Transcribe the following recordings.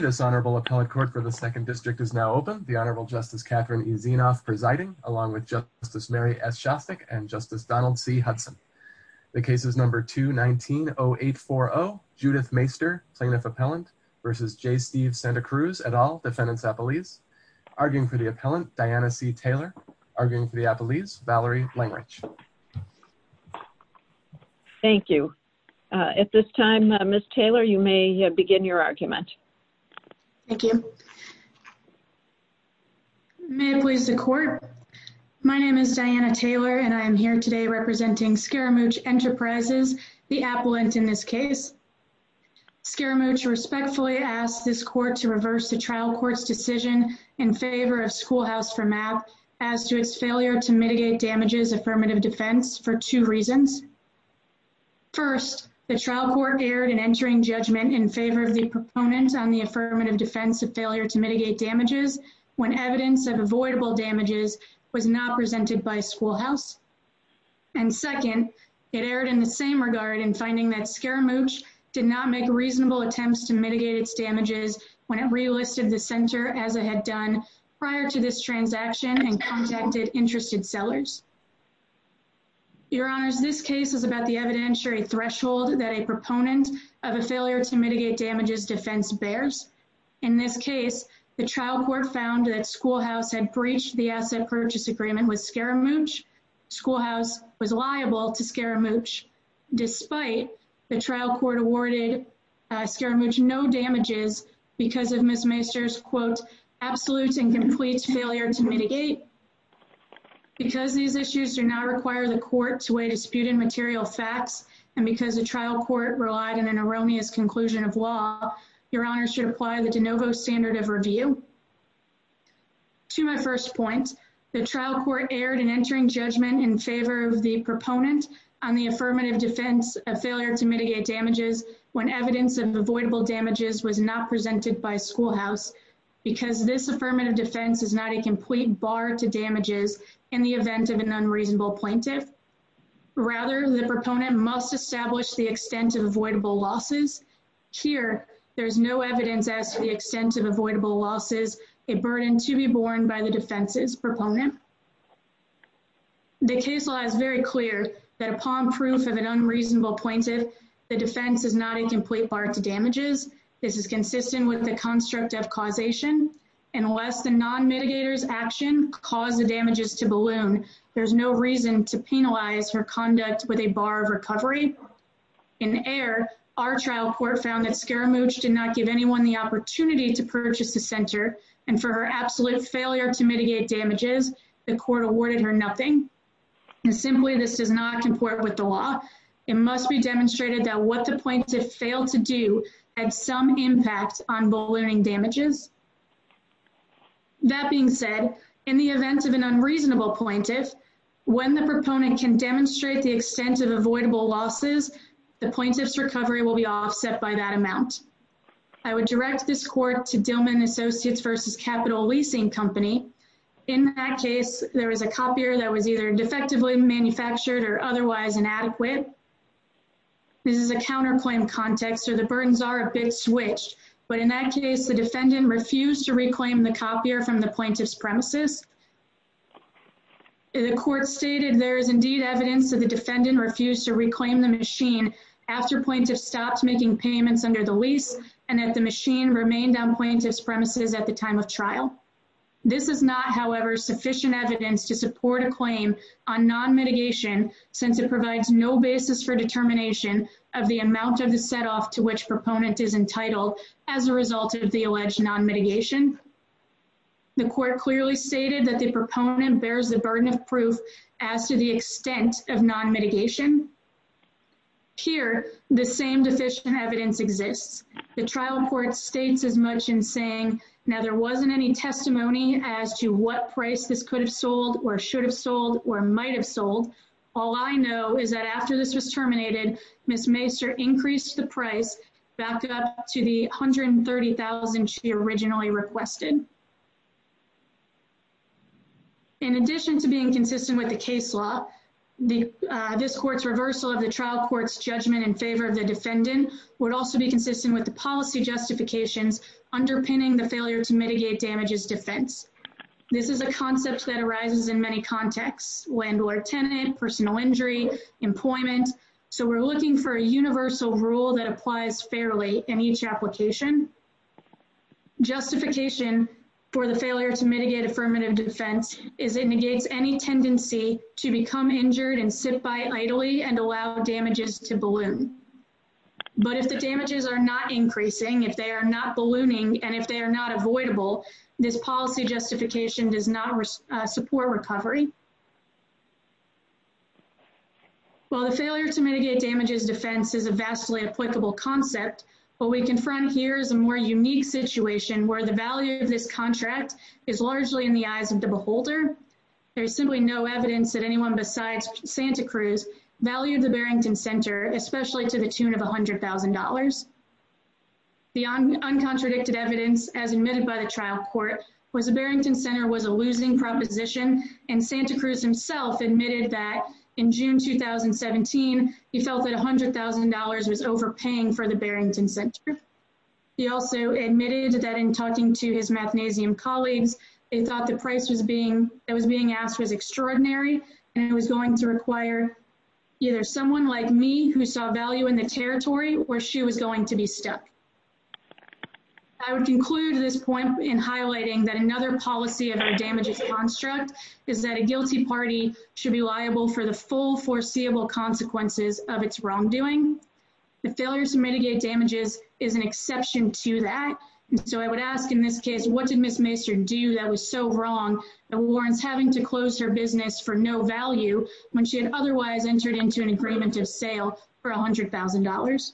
This honorable appellate court for the 2nd District is now open. The Honorable Justice Catherine E. Zinoff presiding along with Justice Mary S. Shostak and Justice Donald C. Hudson. The case is number 219-0840, Judith Mayster, plaintiff appellant versus J. Steve Santacruz et al., defendant's appellees. Arguing for the appellant, Diana C. Taylor. Arguing for the appellees, Valerie Langerich. Thank you. At this time, Ms. Taylor, you may begin your argument. Thank you. May it please the court, my name is Diana Taylor and I am here today representing Scaramouche Enterprises, the appellant in this case. Scaramouche respectfully asks this court to reverse the trial court's decision in favor of Schoolhouse for MAP as to its failure to mitigate damages affirmative defense for two reasons. First, the trial court erred in entering judgment in favor of the proponent on the affirmative defense of failure to mitigate damages when evidence of avoidable damages was not presented by Schoolhouse. And second, it erred in the same regard in finding that Scaramouche did not make reasonable attempts to mitigate its damages when it relisted the center as it had done prior to this transaction and contacted interested sellers. Your Honors, this case is about the evidentiary threshold that a proponent of a failure to mitigate damages defense bears. In this case, the trial court found that Schoolhouse had breached the asset purchase agreement with Scaramouche. Schoolhouse was liable to Scaramouche despite the trial court awarded Scaramouche no damages because of Ms. Meister's, quote, absolute and complete failure to mitigate. Because these issues do not require the court to weigh disputed material facts and because the trial court relied on an erroneous conclusion of law, Your Honors should apply the de novo standard of review. To my first point, the trial court erred in entering judgment in favor of the proponent on the affirmative defense of failure to mitigate damages when evidence of avoidable damages was not presented by Schoolhouse. Because this affirmative defense is not a complete bar to damages in the event of an unreasonable plaintiff. Rather, the proponent must establish the extent of avoidable losses. Here, there is no evidence as to the extent of avoidable losses, a burden to be borne by the defense's proponent. The case law is very clear that upon proof of an unreasonable plaintiff, the defense is not a complete bar to damages. This is consistent with the construct of causation. Unless the non-mitigators action caused the damages to balloon, there is no reason to penalize her conduct with a bar of recovery. In error, our trial court found that Scaramouche did not give anyone the opportunity to purchase the center and for her absolute failure to mitigate damages, the court awarded her nothing. And simply, this does not comport with the law. It must be demonstrated that what the plaintiff failed to do had some impact on ballooning damages. That being said, in the event of an unreasonable plaintiff, when the proponent can demonstrate the extent of avoidable losses, the plaintiff's recovery will be offset by that amount. I would direct this court to Dillman & Associates v. Capital Leasing Company. In that case, there was a copier that was either defectively manufactured or otherwise inadequate. This is a counterclaim context, so the burdens are a bit switched. But in that case, the defendant refused to reclaim the copier from the plaintiff's premises. The court stated there is indeed evidence that the defendant refused to reclaim the machine after plaintiff stopped making payments under the lease and that the machine remained on plaintiff's premises at the time of trial. This is not, however, sufficient evidence to support a claim on non-mitigation since it provides no basis for determination of the amount of the set-off to which proponent is entitled as a result of the alleged non-mitigation. The court clearly stated that the proponent bears the burden of proof as to the extent of non-mitigation. Here, the same deficient evidence exists. The trial court states as much in saying, now, there wasn't any testimony as to what price this could have sold or should have sold or might have sold. All I know is that after this was terminated, Ms. Macer increased the price back up to the $130,000 she originally requested. In addition to being consistent with the case law, this court's reversal of the trial court's in favor of the defendant would also be consistent with the policy justifications underpinning the failure to mitigate damages defense. This is a concept that arises in many contexts, landlord-tenant, personal injury, employment. So we're looking for a universal rule that applies fairly in each application. Justification for the failure to mitigate affirmative defense is it negates any tendency to become injured and sit by idly and allow damages to balloon. But if the damages are not increasing, if they are not ballooning, and if they are not avoidable, this policy justification does not support recovery. While the failure to mitigate damages defense is a vastly applicable concept, what we confront here is a more unique situation where the value of this contract is largely in the eyes of the beholder. There is simply no evidence that anyone besides Santa Cruz valued the Barrington Center, especially to the tune of $100,000. The uncontradicted evidence, as admitted by the trial court, was the Barrington Center was a losing proposition, and Santa Cruz himself admitted that in June 2017, he felt that $100,000 was overpaying for the Barrington Center. He also admitted that in talking to his magnesium colleagues, they thought the price that was being asked was extraordinary, and it was going to require either someone like me who saw value in the territory, or she was going to be stuck. I would conclude this point in highlighting that another policy of the damages construct is that a guilty party should be liable for the full foreseeable consequences of its wrongdoing. The failure to mitigate damages is an exception to that, and so I would ask in this case, what did Ms. Maester do that was so wrong that warrants having to close her business for no value when she had otherwise entered into an agreement of sale for $100,000?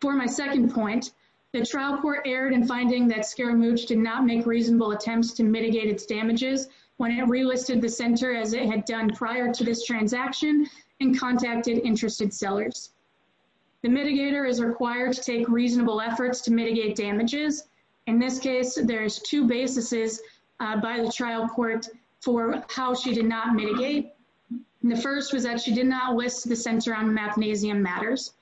For my second point, the trial court erred in finding that Scaramouche did not make reasonable attempts to mitigate its damages when it relisted the center as it had done prior to this transaction and contacted interested sellers. The mitigator is required to take reasonable efforts to mitigate damages. In this case, there's two basises by the trial court for how she did not mitigate. The first was that she did not list the center on magnesium matters,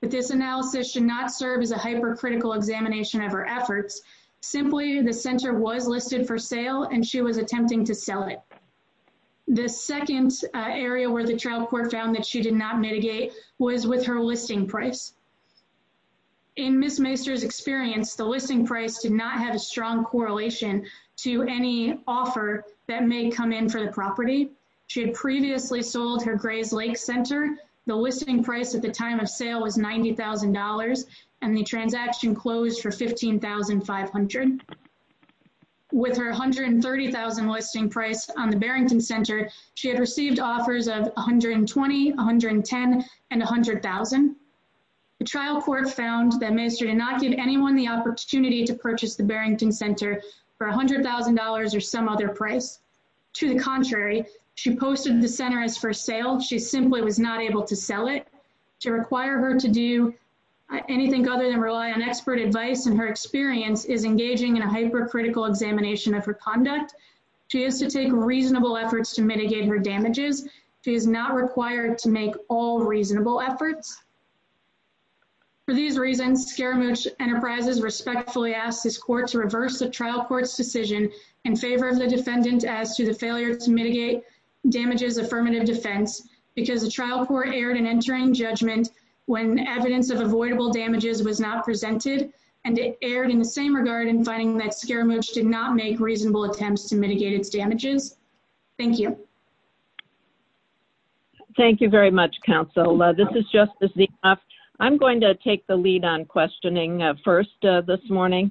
but this analysis should not serve as a hypercritical examination of her efforts. Simply, the center was listed for sale, and she was attempting to sell it. The second area where the trial court found that she did not mitigate was with her listing price. In Ms. Maester's experience, the listing price did not have a strong correlation to any offer that may come in for the property. She had previously sold her Gray's Lake Center. The listing price at the time of sale was $90,000, and the transaction closed for $15,500. With her $130,000 listing price on the Barrington Center, she had received offers of $120,000, $110,000, and $100,000. The trial court found that Ms. Maester did not give anyone the opportunity to purchase the Barrington Center for $100,000 or some other price. To the contrary, she posted the center as for sale. She simply was not able to sell it. To require her to do anything other than rely on expert advice in her experience is engaging in a hypercritical examination of her conduct. She has to take reasonable efforts to mitigate her damages. She is not required to make all reasonable efforts. For these reasons, Scaramouche Enterprises respectfully asked this court to reverse the trial court's decision in favor of the defendant as to the failure to mitigate damages affirmative defense because the trial court erred in entering judgment when evidence of avoidable damages was not presented, and it erred in the same regard in finding that Scaramouche did not make reasonable attempts to mitigate its damages. Thank you. Thank you very much, counsel. This is Justice Ziaf. I'm going to take the lead on questioning first this morning.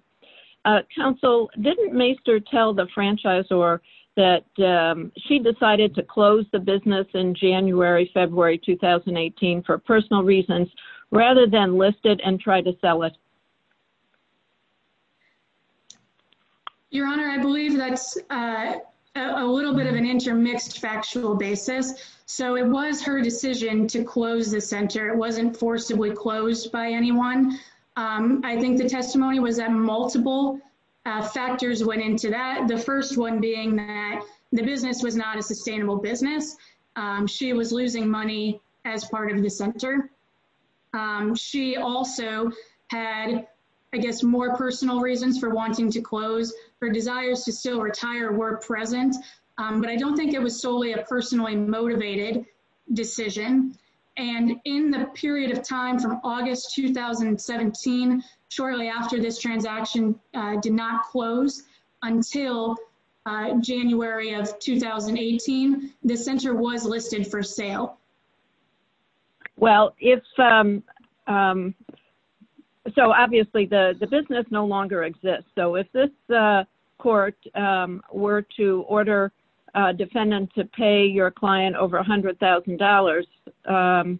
Counsel, didn't Maester tell the franchisor that she decided to close the business in January, February 2018 for personal reasons rather than list it and try to sell it? Your Honor, I believe that's a little bit of an intermixed factual basis. So it was her decision to close the center. It wasn't forcibly closed by anyone. I think the testimony was that multiple factors went into that, the first one being that the business was not a sustainable business. She was losing money as part of the center. She also had, I guess, more personal reasons for wanting to close. Her desires to still retire were present, but I don't think it was solely a personally motivated decision. And in the period of time from August 2017, shortly after this transaction did not close until January of 2018, the center was listed for sale. Well, if—so obviously the business no longer exists. So if this court were to order a defendant to pay your client over $100,000,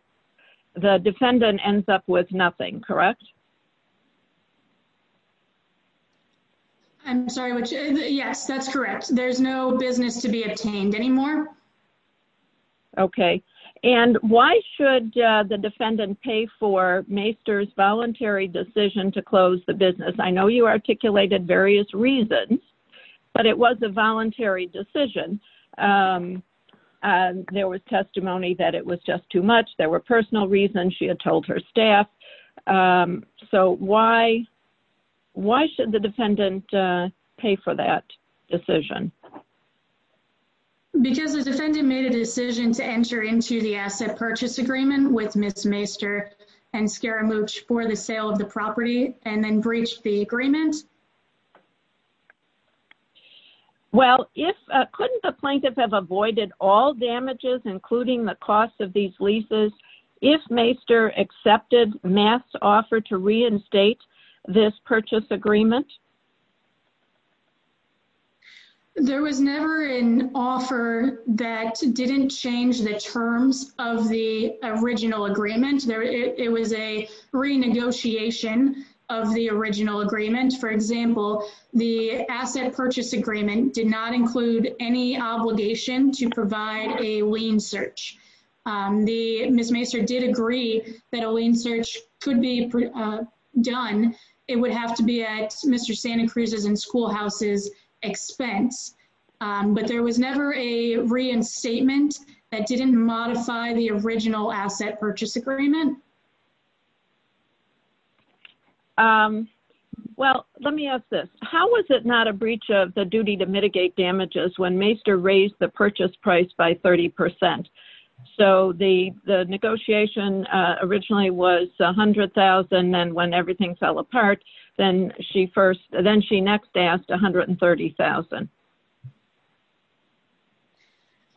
the defendant ends up with nothing, correct? I'm sorry, which—yes, that's correct. There's no business to be obtained anymore. Okay. And why should the defendant pay for Maester's voluntary decision to close the business? I know you articulated various reasons, but it was a voluntary decision. There was testimony that it was just too much. There were personal reasons she had told her staff. So why should the defendant pay for that decision? Because the defendant made a decision to enter into the asset purchase agreement with Ms. Well, if—couldn't the plaintiff have avoided all damages, including the cost of these leases, if Maester accepted Maester's offer to reinstate this purchase agreement? There was never an offer that didn't change the terms of the original agreement. It was a renegotiation of the original agreement. For example, the asset purchase agreement did not include any obligation to provide a lien search. Ms. Maester did agree that a lien search could be done. It would have to be at Mr. Santa Cruz's and schoolhouse's expense. But there was never a reinstatement that didn't modify the original asset purchase agreement. Well, let me ask this. How was it not a breach of the duty to mitigate damages when Maester raised the purchase price by 30 percent? So the negotiation originally was $100,000, and then when everything fell apart, then she first—then she next asked $130,000.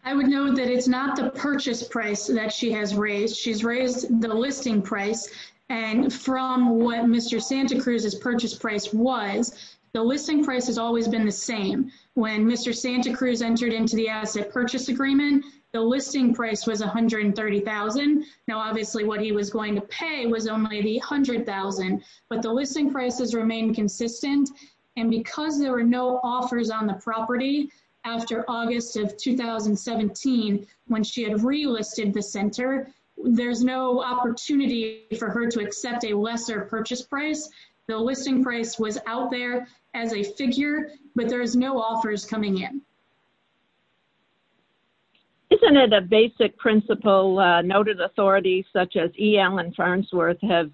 I would note that it's not the purchase price that she has raised. She's raised the listing price, and from what Mr. Santa Cruz's purchase price was, the listing price has always been the same. When Mr. Santa Cruz entered into the asset purchase agreement, the listing price was $130,000. Now, obviously, what he was going to pay was only the $100,000, but the listing prices remained consistent. And because there were no offers on the property after August of 2017, when she had relisted the center, there's no opportunity for her to accept a lesser purchase price. The listing price was out there as a figure, but there's no offers coming in. Isn't it a basic principle noted authorities such as E. Allen Farnsworth have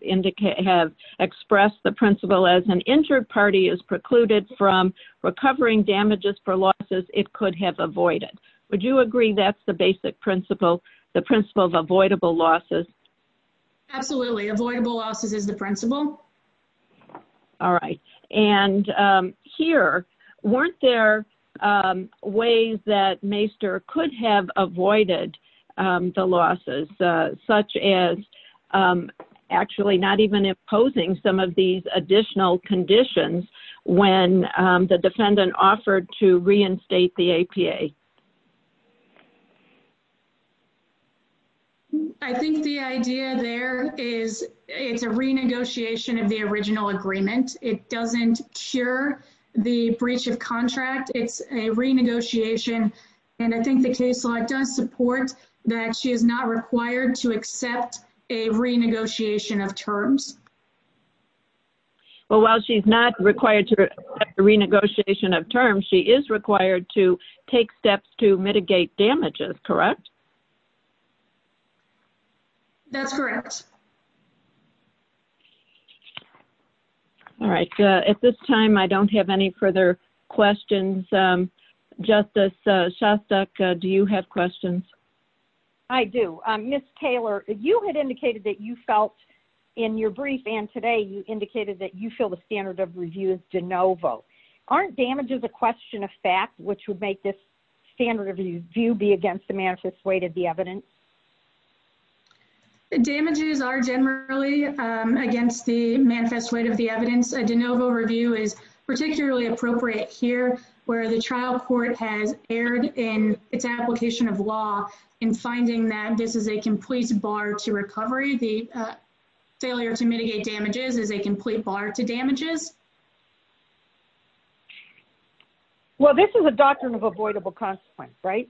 expressed the principle as an injured party is precluded from recovering damages for losses it could have avoided? Would you agree that's the basic principle, the principle of avoidable losses? Absolutely. Avoidable losses is the principle. All right. And here, weren't there ways that Maester could have avoided the losses, such as actually not even imposing some of these additional conditions when the defendant offered to reinstate the APA? I think the idea there is it's a renegotiation of the original agreement. It doesn't cure the breach of contract. It's a renegotiation, and I think the case law does support that she is not required to accept a renegotiation of terms. Well, while she's not required to accept a renegotiation of terms, she is required to take steps to mitigate damages, correct? That's correct. All right. At this time, I don't have any further questions. Justice Shostak, do you have questions? I do. Ms. Taylor, you had indicated that you felt, in your brief and today, you indicated that you feel the standard of review is de novo. Aren't damages a question of fact, which would make this standard of view be against the manifest weight of the evidence? Damages are generally against the manifest weight of the evidence. A de novo review is particularly appropriate here, where the trial court has erred in its a complete bar to recovery. The failure to mitigate damages is a complete bar to damages. Well, this is a doctrine of avoidable consequence, right?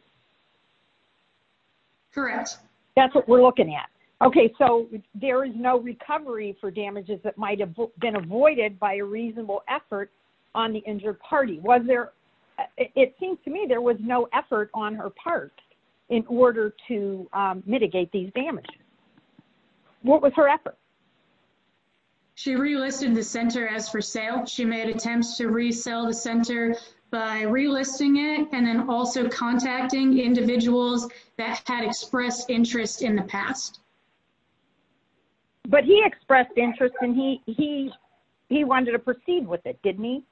Correct. That's what we're looking at. Okay, so there is no recovery for damages that might have been avoided by a reasonable effort on the injured party. It seems to me there was no effort on her part in order to mitigate these damages. What was her effort? She relisted the center as for sale. She made attempts to resell the center by relisting it and then also contacting individuals that had expressed interest in the past. But he expressed interest and he wanted to proceed with it, didn't he?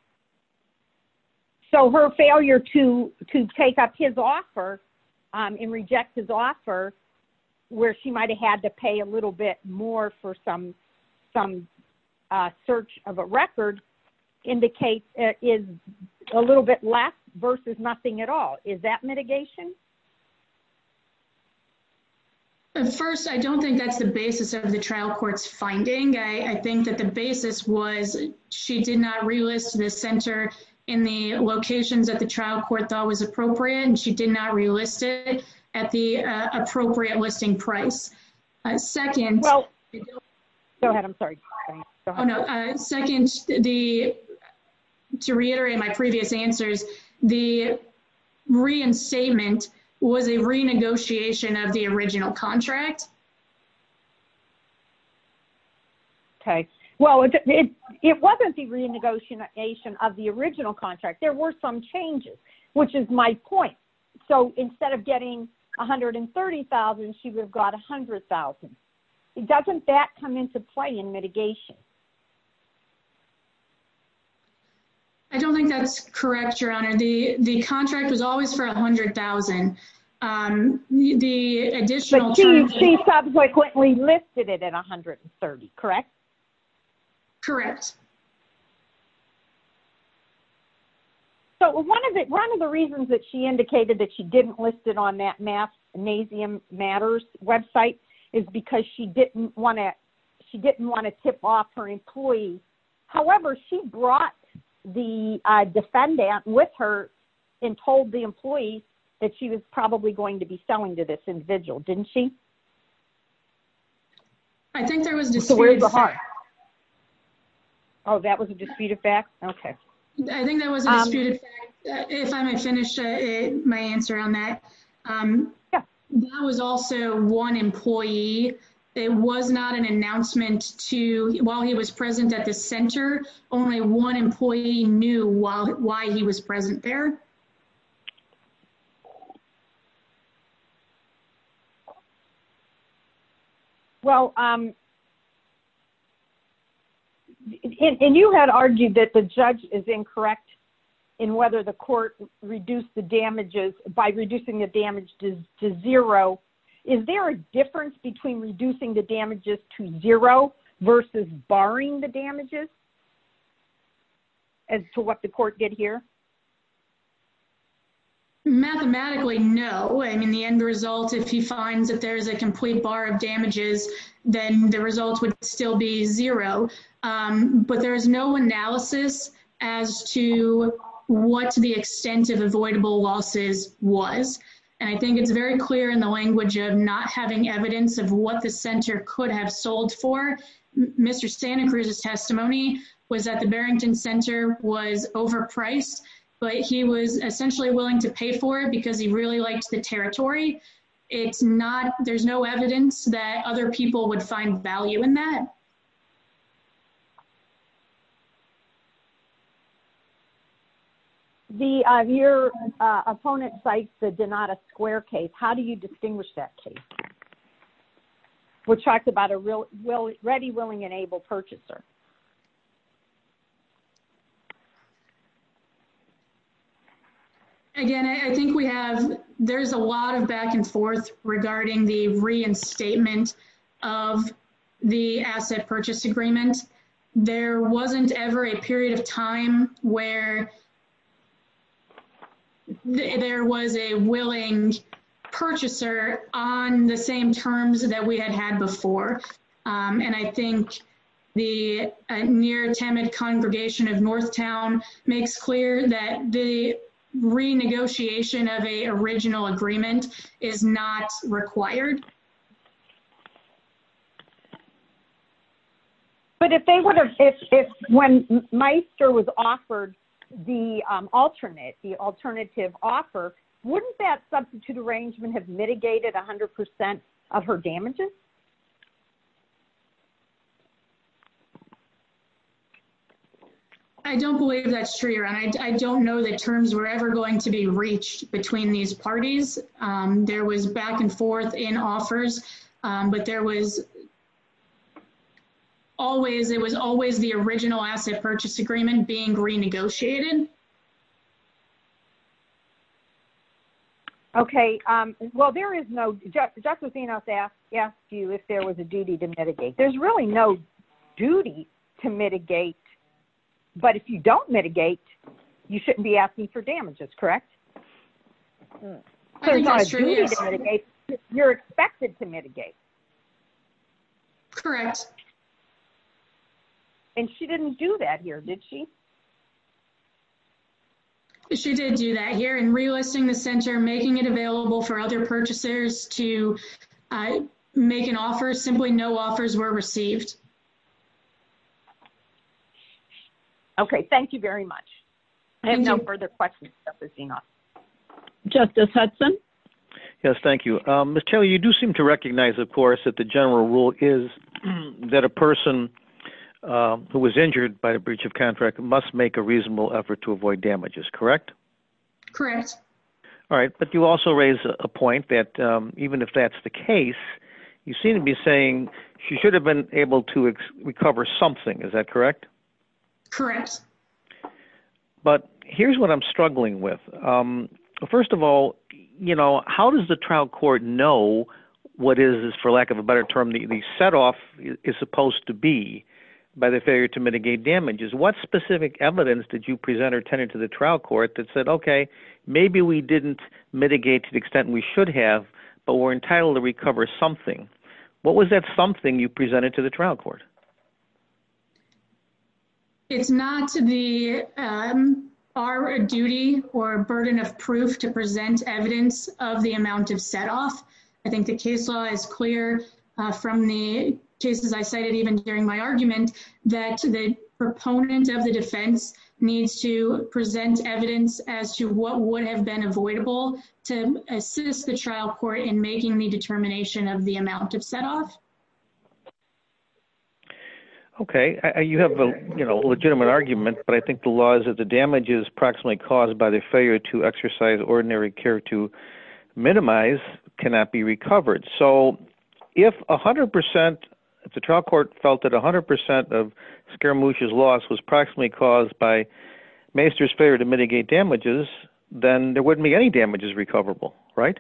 So her failure to take up his offer and reject his offer, where she might have had to pay a little bit more for some search of a record, is a little bit less versus nothing at all. Is that mitigation? First, I don't think that's the basis of the trial court's finding. I think that the basis was she did not relist the center in the locations that the trial court thought was appropriate and she did not relist it at the appropriate listing price. Second, to reiterate my previous answers, the reinstatement was a renegotiation of the contract. Well, it wasn't the renegotiation of the original contract. There were some changes, which is my point. So instead of getting $130,000, she would have got $100,000. Doesn't that come into play in mitigation? I don't think that's correct, Your Honor. The contract was always for $100,000. But she subsequently listed it at $130,000, correct? Correct. So one of the reasons that she indicated that she didn't list it on that NASM Matters website is because she didn't want to tip off her employees. However, she brought the defendant with her and told the employee that she was probably going to be selling to this individual, didn't she? I think there was a disputed fact. Oh, that was a disputed fact? Okay. I think that was a disputed fact, if I may finish my answer on that. That was also one employee. It was not an announcement while he was present at the center. Only one employee knew why he was present there. Well, and you had argued that the judge is incorrect in whether the court reduced the damages by reducing the damage to zero. Is there a difference between reducing the damages to zero versus barring the damages as to what the court did here? Mathematically, no. I mean, the end result, if he finds that there is a complete bar of damages, then the results would still be zero. But there is no analysis as to what the extent of avoidable losses was. And I think it's very clear in the language of not having evidence of what the center could have sold for. Mr. Santa Cruz's testimony was that the Barrington Center was overpriced, but he was essentially willing to pay for it because he really liked the territory. There's no evidence that other people would find value in that. Your opponent cites the Donata Square case. How do you distinguish that case? We're talking about a ready, willing, and able purchaser. Again, I think we have, there's a lot of back and forth regarding the reinstatement of the assets. Purchase agreement. There wasn't ever a period of time where there was a willing purchaser on the same terms that we had had before. And I think the near Temid congregation of Northtown makes clear that the renegotiation of a original agreement is not required. But if they would have, if when Meister was offered the alternate, the alternative offer, wouldn't that substitute arrangement have mitigated 100% of her damages? I don't believe that's true, and I don't know that terms were ever going to be reached between these parties. There was back and forth in offers, but there was always, it was always the original asset purchase agreement being renegotiated. Okay, well, there is no, Justice Enos asked you if there was a duty to mitigate. There's really no duty to mitigate. But if you don't mitigate, you shouldn't be asking for damages, correct? There's not a duty to mitigate. You're expected to mitigate. Correct. And she didn't do that here, did she? She did do that here in relisting the center, making it available for other purchasers to make an offer. Simply no offers were received. Okay, thank you very much. I have no further questions, Justice Enos. Justice Hudson? Yes, thank you. Ms. Taylor, you do seem to recognize, of course, that the general rule is that a person who was injured by a breach of contract must make a reasonable effort to avoid damages, correct? Correct. All right, but you also raise a point that even if that's the case, you seem to be saying she should have been able to recover something, is that correct? Correct. But here's what I'm struggling with. First of all, how does the trial court know what is, for lack of a better term, the set off is supposed to be by the failure to mitigate damages? What specific evidence did you present or tend to the trial court that said, okay, maybe we didn't mitigate to the extent we should have, but we're entitled to recover something? What was that something you presented to the trial court? It's not our duty or burden of proof to present evidence of the amount of set off. I think the case law is clear from the cases I cited, even during my argument, that the proponent of the defense needs to present evidence as to what would have been avoidable to assist the trial court in making the determination of the amount of set off. Okay, you have a legitimate argument, but I think the laws of the damages proximately caused by the failure to exercise ordinary care to minimize cannot be recovered. So if 100 percent, if the trial court felt that 100 percent of Scaramucci's loss was proximately caused by Meister's failure to mitigate damages, then there wouldn't be any damages recoverable, right?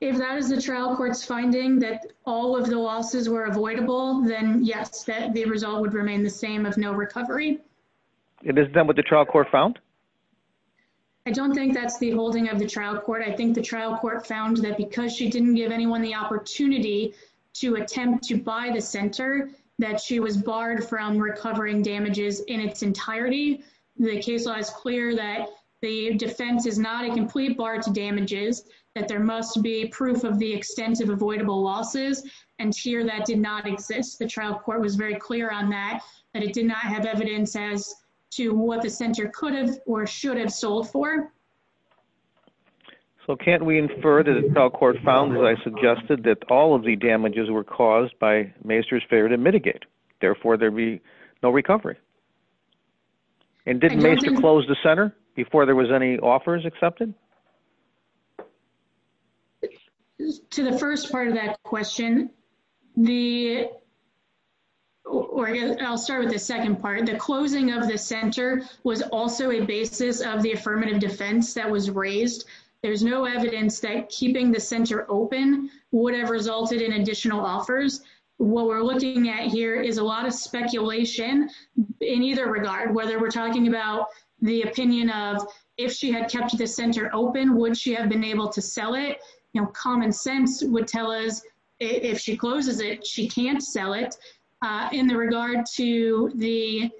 If that is the trial court's finding that all of the losses were avoidable, then yes, that the result would remain the same of no recovery. Is that what the trial court found? I don't think that's the holding of the trial court. I think the trial court found that because she didn't give anyone the opportunity to attempt to buy the center, that she was barred from recovering damages in its entirety. The case law is clear that the defense is not a complete bar to damages, that there must be proof of the extensive avoidable losses. And here that did not exist. The trial court was very clear on that, that it did not have evidence as to what the center could have or should have sold for. So can't we infer that the trial court found, as I suggested, that all of the damages were caused by Meister's failure to mitigate. Therefore, there'd be no recovery. And didn't Meister close the center before there was any offers accepted? To the first part of that question, I'll start with the second part. The closing of the center was also a basis of the affirmative defense that was raised. There's no evidence that keeping the center open would have resulted in additional offers. What we're looking at here is a lot of speculation in either regard, whether we're talking about the opinion of if she had kept the center open, would she have been able to sell it? Common sense would tell us if she closes it, she can't sell it. In the regard to the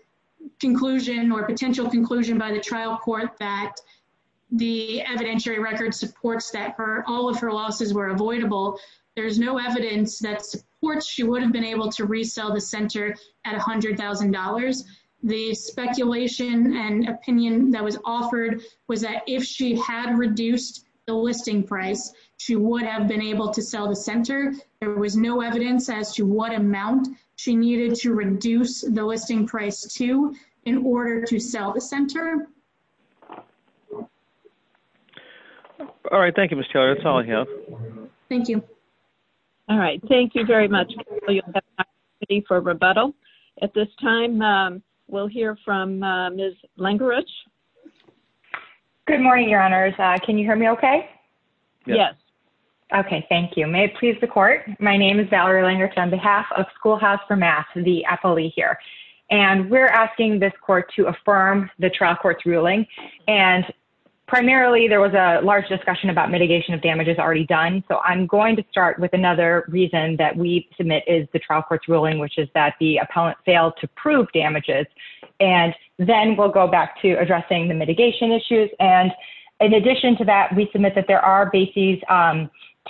conclusion or potential conclusion by the trial court that the evidentiary record supports that all of her losses were avoidable, there's no evidence that supports she would have been able to resell the center at $100,000. The speculation and opinion that was offered was that if she had reduced the listing price, she would have been able to sell the center. There was no evidence as to what amount she needed to reduce the listing price to in order to sell the center. All right. Thank you, Ms. Taylor. That's all I have. Thank you. All right. Thank you very much. You have time for rebuttal. At this time, we'll hear from Ms. Langerich. Good morning, Your Honors. Can you hear me okay? Yes. Okay. Thank you. May it please the court. My name is Valerie Langerich on behalf of Schoolhouse for Math, the affilee here. We're asking this court to affirm the trial court's ruling. Primarily, there was a large discussion about mitigation of damages already done. I'm going to start with another reason that we submit is the trial court's ruling, which is that the appellant failed to prove damages. Then we'll go back to addressing the mitigation issues. In addition to that, we submit that there are bases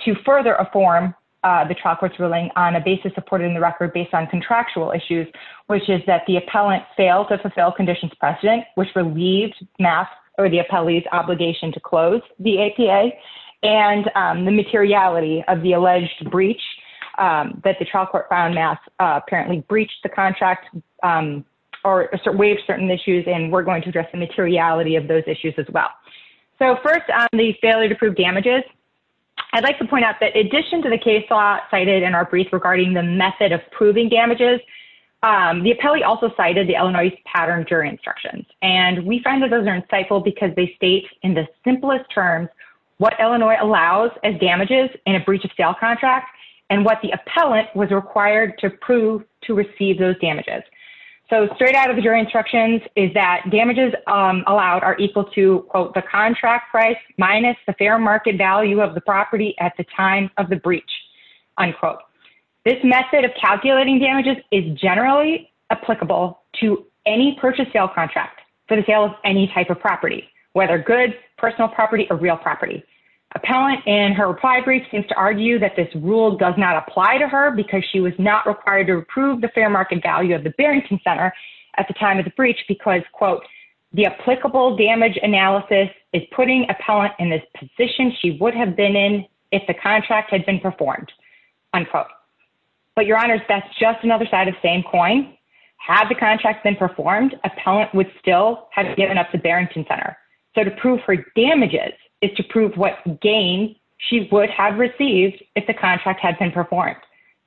to further affirm the trial court's ruling on a basis supported in the record based on contractual issues, which is that the appellant failed to fulfill conditions precedent, which relieved math or the appellee's obligation to of the alleged breach that the trial court found math apparently breached the contract or waived certain issues. We're going to address the materiality of those issues as well. First, the failure to prove damages. I'd like to point out that in addition to the case law cited in our brief regarding the method of proving damages, the appellee also cited the Illinois pattern jury instructions. We find that those are insightful because they state in the simplest terms what Illinois allows as damages in a breach of sale contract and what the appellant was required to prove to receive those damages. Straight out of the jury instructions is that damages allowed are equal to, quote, the contract price minus the fair market value of the property at the time of the breach, unquote. This method of calculating damages is generally applicable to any purchase sale contract for the sale of any type of property, whether good, personal property, or real property. Appellant in her reply brief seems to argue that this rule does not apply to her because she was not required to prove the fair market value of the Barrington Center at the time of the breach because, quote, the applicable damage analysis is putting appellant in this position she would have been in if the contract had been performed, unquote. But, Your Honor, that's just another side of the same coin. Had the contract been performed, appellant would still have given up the Barrington Center. So to prove her damages is to prove what gain she would have received if the contract had been performed.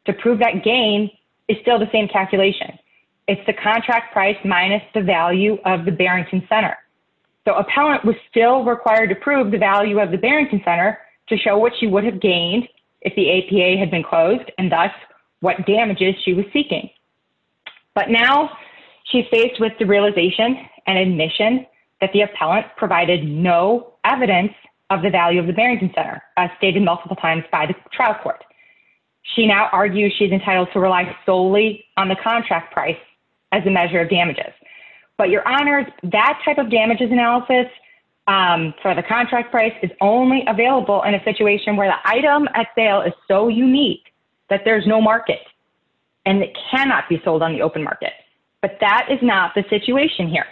To prove that gain is still the same calculation. It's the contract price minus the value of the Barrington Center. So appellant was still required to prove the value of the Barrington Center to show what she would have gained if the APA had been closed and thus what damages she was seeking. But now she's faced with the realization and admission that the appellant provided no evidence of the value of the Barrington Center, as stated multiple times by the trial court. She now argues she's entitled to rely solely on the contract price as a measure of damages. But, Your Honor, that type of damages analysis for the contract price is only available in a situation where the item at sale is so unique that there's no market. And it cannot be sold on the open market. But that is not the situation here.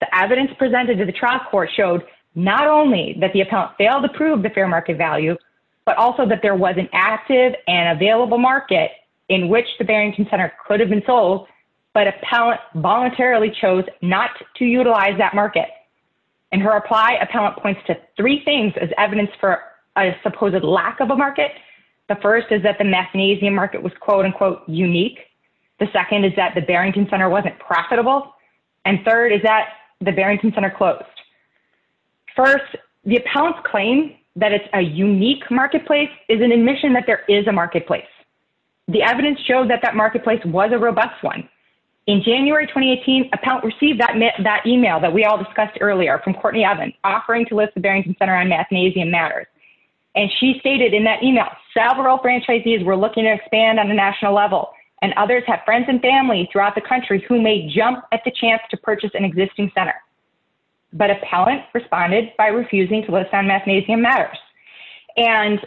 The evidence presented to the trial court showed not only that the appellant failed to prove the fair market value, but also that there was an active and available market in which the Barrington Center could have been sold, but appellant voluntarily chose not to utilize that market. In her reply, appellant points to three things as evidence for a supposed lack of a market. The first is that the mathnasium market was, quote, unquote, unique. The second is that the Barrington Center wasn't profitable. And third is that the Barrington Center closed. First, the appellant's claim that it's a unique marketplace is an admission that there is a marketplace. The evidence showed that that marketplace was a robust one. In January 2018, appellant received that email that we all discussed earlier from Courtney Evans, offering to list the Barrington Center on mathnasium matters. And she stated in that email, several franchisees were looking to expand on the national level, and others have friends and family throughout the country who may jump at the chance to purchase an existing center. But appellant responded by refusing to list on mathnasium matters. And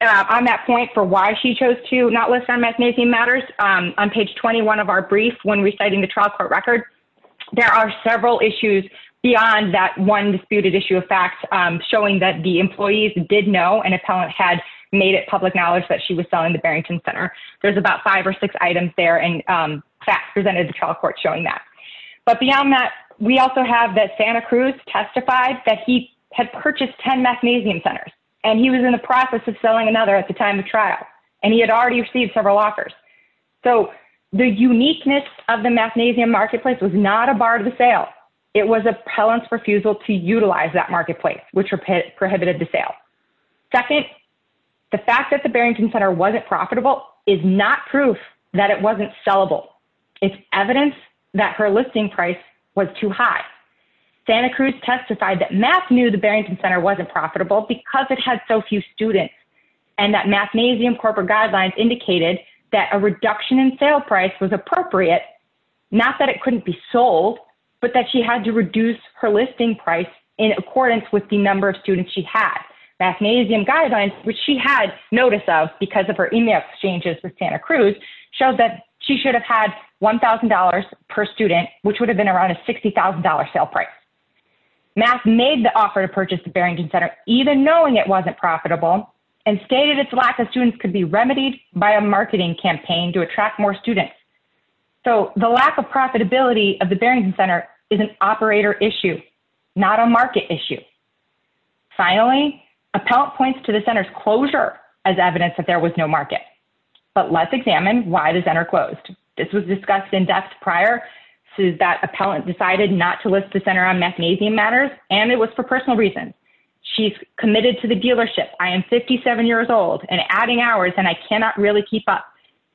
on that point for why she chose to not list on mathnasium matters, on page 21 of our brief when reciting the trial court record, there are several issues beyond that one disputed issue of fact showing that the employees did know an appellant had made it public knowledge that she was selling the Barrington Center. There's about five or six items there, and facts presented to trial court showing that. But beyond that, we also have that Santa Cruz testified that he had purchased 10 mathnasium centers, and he was in the process of selling another at the time of trial, and he had already received several offers. So the uniqueness of the mathnasium marketplace was not a bar to the sale. It was appellant's refusal to utilize that marketplace, which prohibited the sale. Second, the fact that the Barrington Center wasn't profitable is not proof that it wasn't sellable. It's evidence that her listing price was too high. Santa Cruz testified that math knew the Barrington Center wasn't profitable because it had so few students, and that mathnasium corporate guidelines indicated that a reduction in sale price was appropriate, not that it couldn't be sold, but that she had to reduce her listing price in accordance with the number of students she had. Mathnasium guidelines, which she had notice of because of her email exchanges with Santa Cruz, showed that she should have had $1,000 per student, which would have been around a $60,000 sale price. Math made the offer to purchase the Barrington Center, even knowing it wasn't profitable, and stated its lack of students could be remedied by a marketing campaign to attract more students. So the lack of profitability of the Barrington Center is an operator issue, not a market issue. Finally, appellant points to the center's closure as evidence that there was no market. But let's examine why the center closed. This was discussed in depth prior to that appellant decided not to list the center on mathnasium matters, and it was for personal reasons. She's committed to the dealership. I am 57 years old and adding hours, and I cannot really keep up.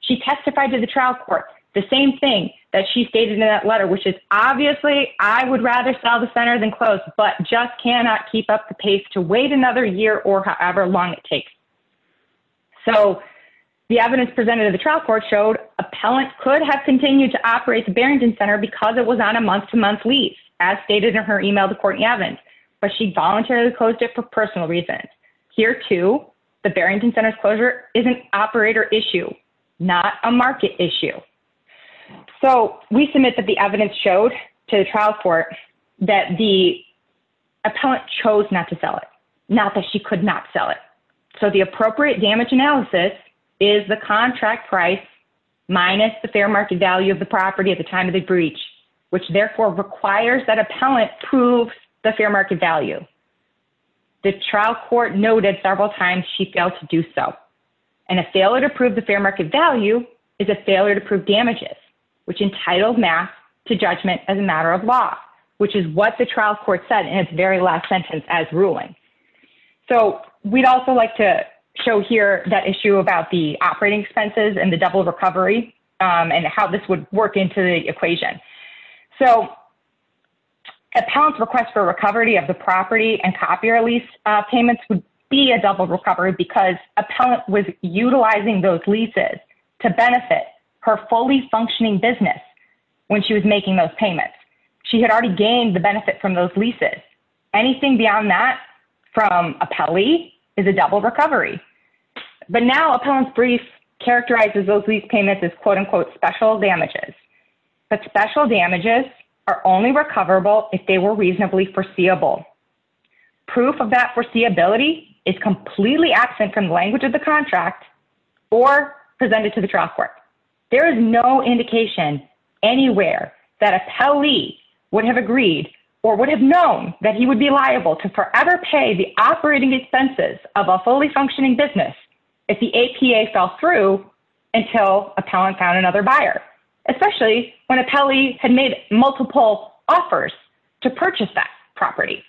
She testified to the trial court, the same thing that she stated in that letter, which is obviously I would rather sell the center than close, but just cannot keep up the pace to wait another year or however long it takes. So the evidence presented to the trial court showed appellant could have continued to operate the Barrington Center because it was on a month to month leave, as stated in her email to Courtney Evans, but she voluntarily closed it for personal reasons. Here too, the Barrington Center's closure is an operator issue, not a market issue. So we submit that the evidence showed to the trial court that the appellant chose not to sell it, not that she could not sell it. So the appropriate damage analysis is the contract price minus the fair market value of the property at the time of the breach, which therefore requires that appellant prove the fair market value. The trial court noted several times she failed to do so, and a failure to prove the fair market value is a failure to prove damages, which entitled math to judgment as a matter of law, which is what the trial court said in its very last sentence as ruling. So we'd also like to show here that issue about the operating expenses and the double So appellant's request for recovery of the property and copier lease payments would be a double recovery because appellant was utilizing those leases to benefit her fully functioning business when she was making those payments. She had already gained the benefit from those leases. Anything beyond that from appellee is a double recovery. But now appellant's brief characterizes those lease payments as quote unquote special damages, but special damages are only recoverable if they were reasonably foreseeable. Proof of that foreseeability is completely absent from the language of the contract or presented to the trial court. There is no indication anywhere that appellee would have agreed or would have known that he would be liable to forever pay the operating expenses of a fully functioning business if the APA fell through until appellant found another buyer, especially when appellee had made multiple offers to purchase that property.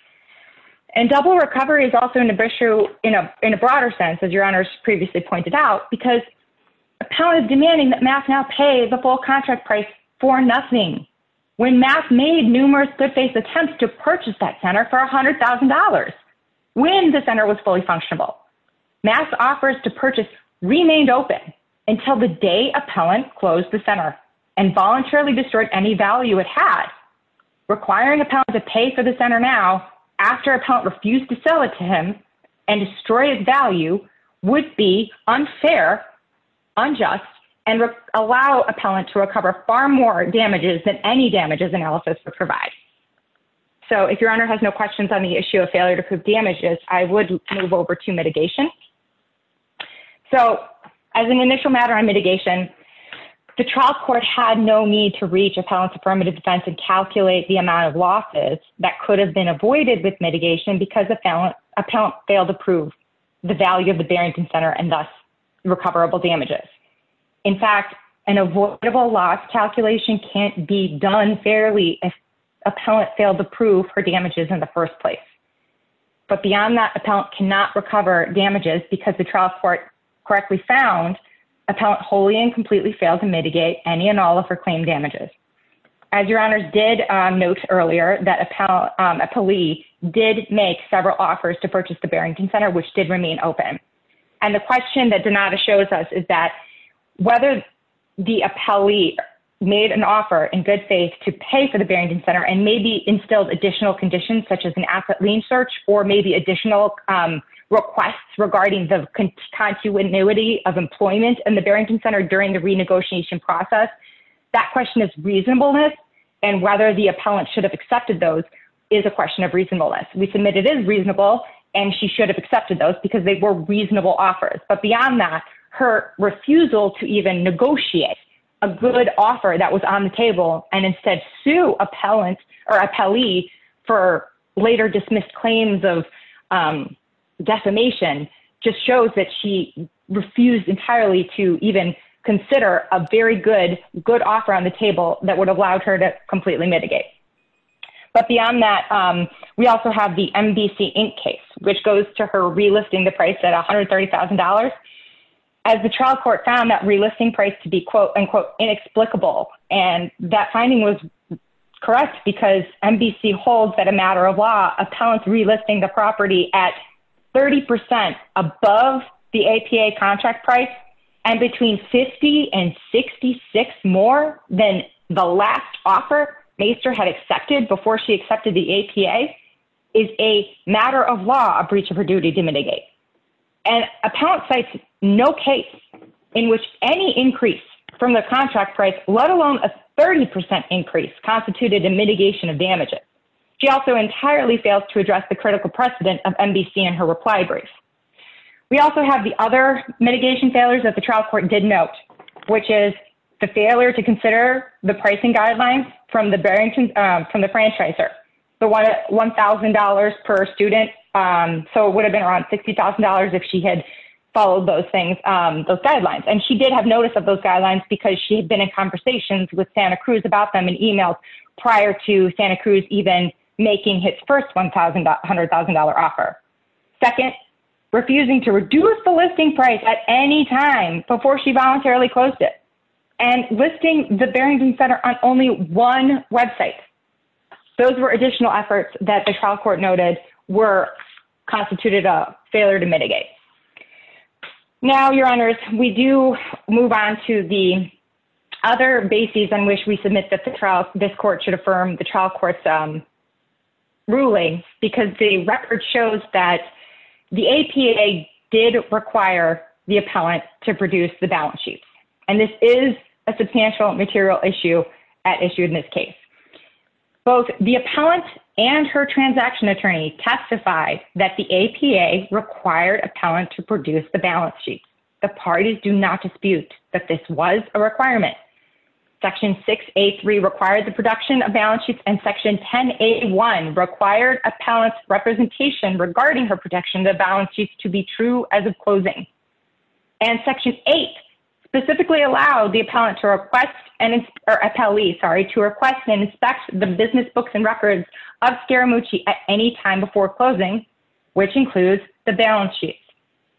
And double recovery is also an issue in a broader sense, as your honors previously pointed out, because appellant is demanding that math now pay the full contract price for nothing. When math made numerous good faith attempts to purchase that center for $100,000 when the center was fully functional math offers to purchase remained open until the day appellant closed the center and voluntarily destroyed any value it had requiring a pound to pay for the center. Now, after appellant refused to sell it to him and destroyed value would be unfair, unjust and allow appellant to recover far more damages than any damages analysis would provide. So, if your honor has no questions on the issue of failure to prove damages, I would move over to mitigation. So, as an initial matter on mitigation, the trial court had no need to reach appellants affirmative defense and calculate the amount of losses that could have been avoided with mitigation because appellant failed to prove the value of the Barrington Center and thus recoverable damages. In fact, an avoidable loss calculation can't be done fairly if appellant failed to prove for damages in the first place. But beyond that, appellant cannot recover damages because the trial court correctly found appellant wholly and completely failed to mitigate any and all of her claim damages. As your honors did note earlier that appellee did make several offers to purchase the Barrington Center which did remain open. And the question that Donata shows us is that whether the appellee made an offer in good faith to pay for the Barrington Center and maybe instilled additional conditions such as an asset lien search or maybe additional requests regarding the continuity of employment in the Barrington Center during the renegotiation process. That question is reasonableness and whether the appellant should have accepted those is a question of reasonableness. We submit it is reasonable and she should have accepted those because they were reasonable offers. But beyond that, her refusal to even negotiate a good offer that was on the table and instead sue appellant or appellee for later dismissed claims of decimation just shows that she refused entirely to even consider a very good, good offer on the table that would have allowed her to completely mitigate. But beyond that, we also have the MBC Inc. case which goes to her relisting the price at $130,000 as the trial court found that relisting price to be quote, unquote, inexplicable. And that finding was correct because MBC holds that a matter of law, appellants relisting the property at 30% above the APA contract price and between 50 and 66 more than the last offer Maester had accepted before she accepted the APA is a matter of law, a breach of her duty to mitigate. And appellant cites no case in which any increase from the contract price, let alone a 30% increase, constituted a mitigation of damages. She also entirely fails to address the critical precedent of MBC in her reply brief. We also have the other mitigation failures that the trial court did note, which is the listing guidelines from the Barrington, from the franchisor, the $1,000 per student. So it would have been around $60,000 if she had followed those things, those guidelines. And she did have notice of those guidelines because she had been in conversations with Santa Cruz about them and emailed prior to Santa Cruz even making his first $100,000 offer. Second, refusing to reduce the listing price at any time before she voluntarily closed it and listing the Barrington Center on only one website. Those were additional efforts that the trial court noted were constituted a failure to mitigate. Now, Your Honors, we do move on to the other bases on which we submit that the trial, this court should affirm the trial court's ruling because the record shows that the APA did require the appellant to produce the balance sheet. And this is a substantial material issue at issue in this case. Both the appellant and her transaction attorney testified that the APA required appellant to produce the balance sheet. The parties do not dispute that this was a requirement. Section 683 required the production of balance sheets and Section 1081 required appellant's representation regarding her production of balance sheets to be true as of closing. And Section 8 specifically allowed the appellant to request, or appellee, sorry, to request and inspect the business books and records of Scaramucci at any time before closing, which includes the balance sheet.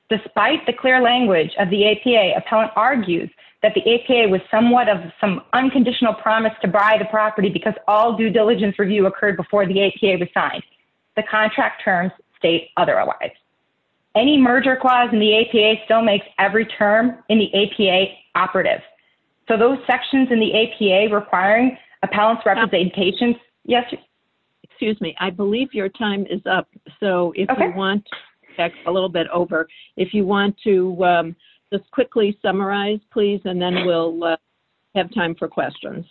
Despite the clear language of the APA, appellant argues that the APA was somewhat of some unconditional promise to buy the property because all due diligence review occurred before the APA was signed. The contract terms state otherwise. Any merger clause in the APA still makes every term in the APA operative. So those sections in the APA requiring appellant's representation, yes. Excuse me. I believe your time is up. So if you want, a little bit over. If you want to just quickly summarize, please. And then we'll have time for questions.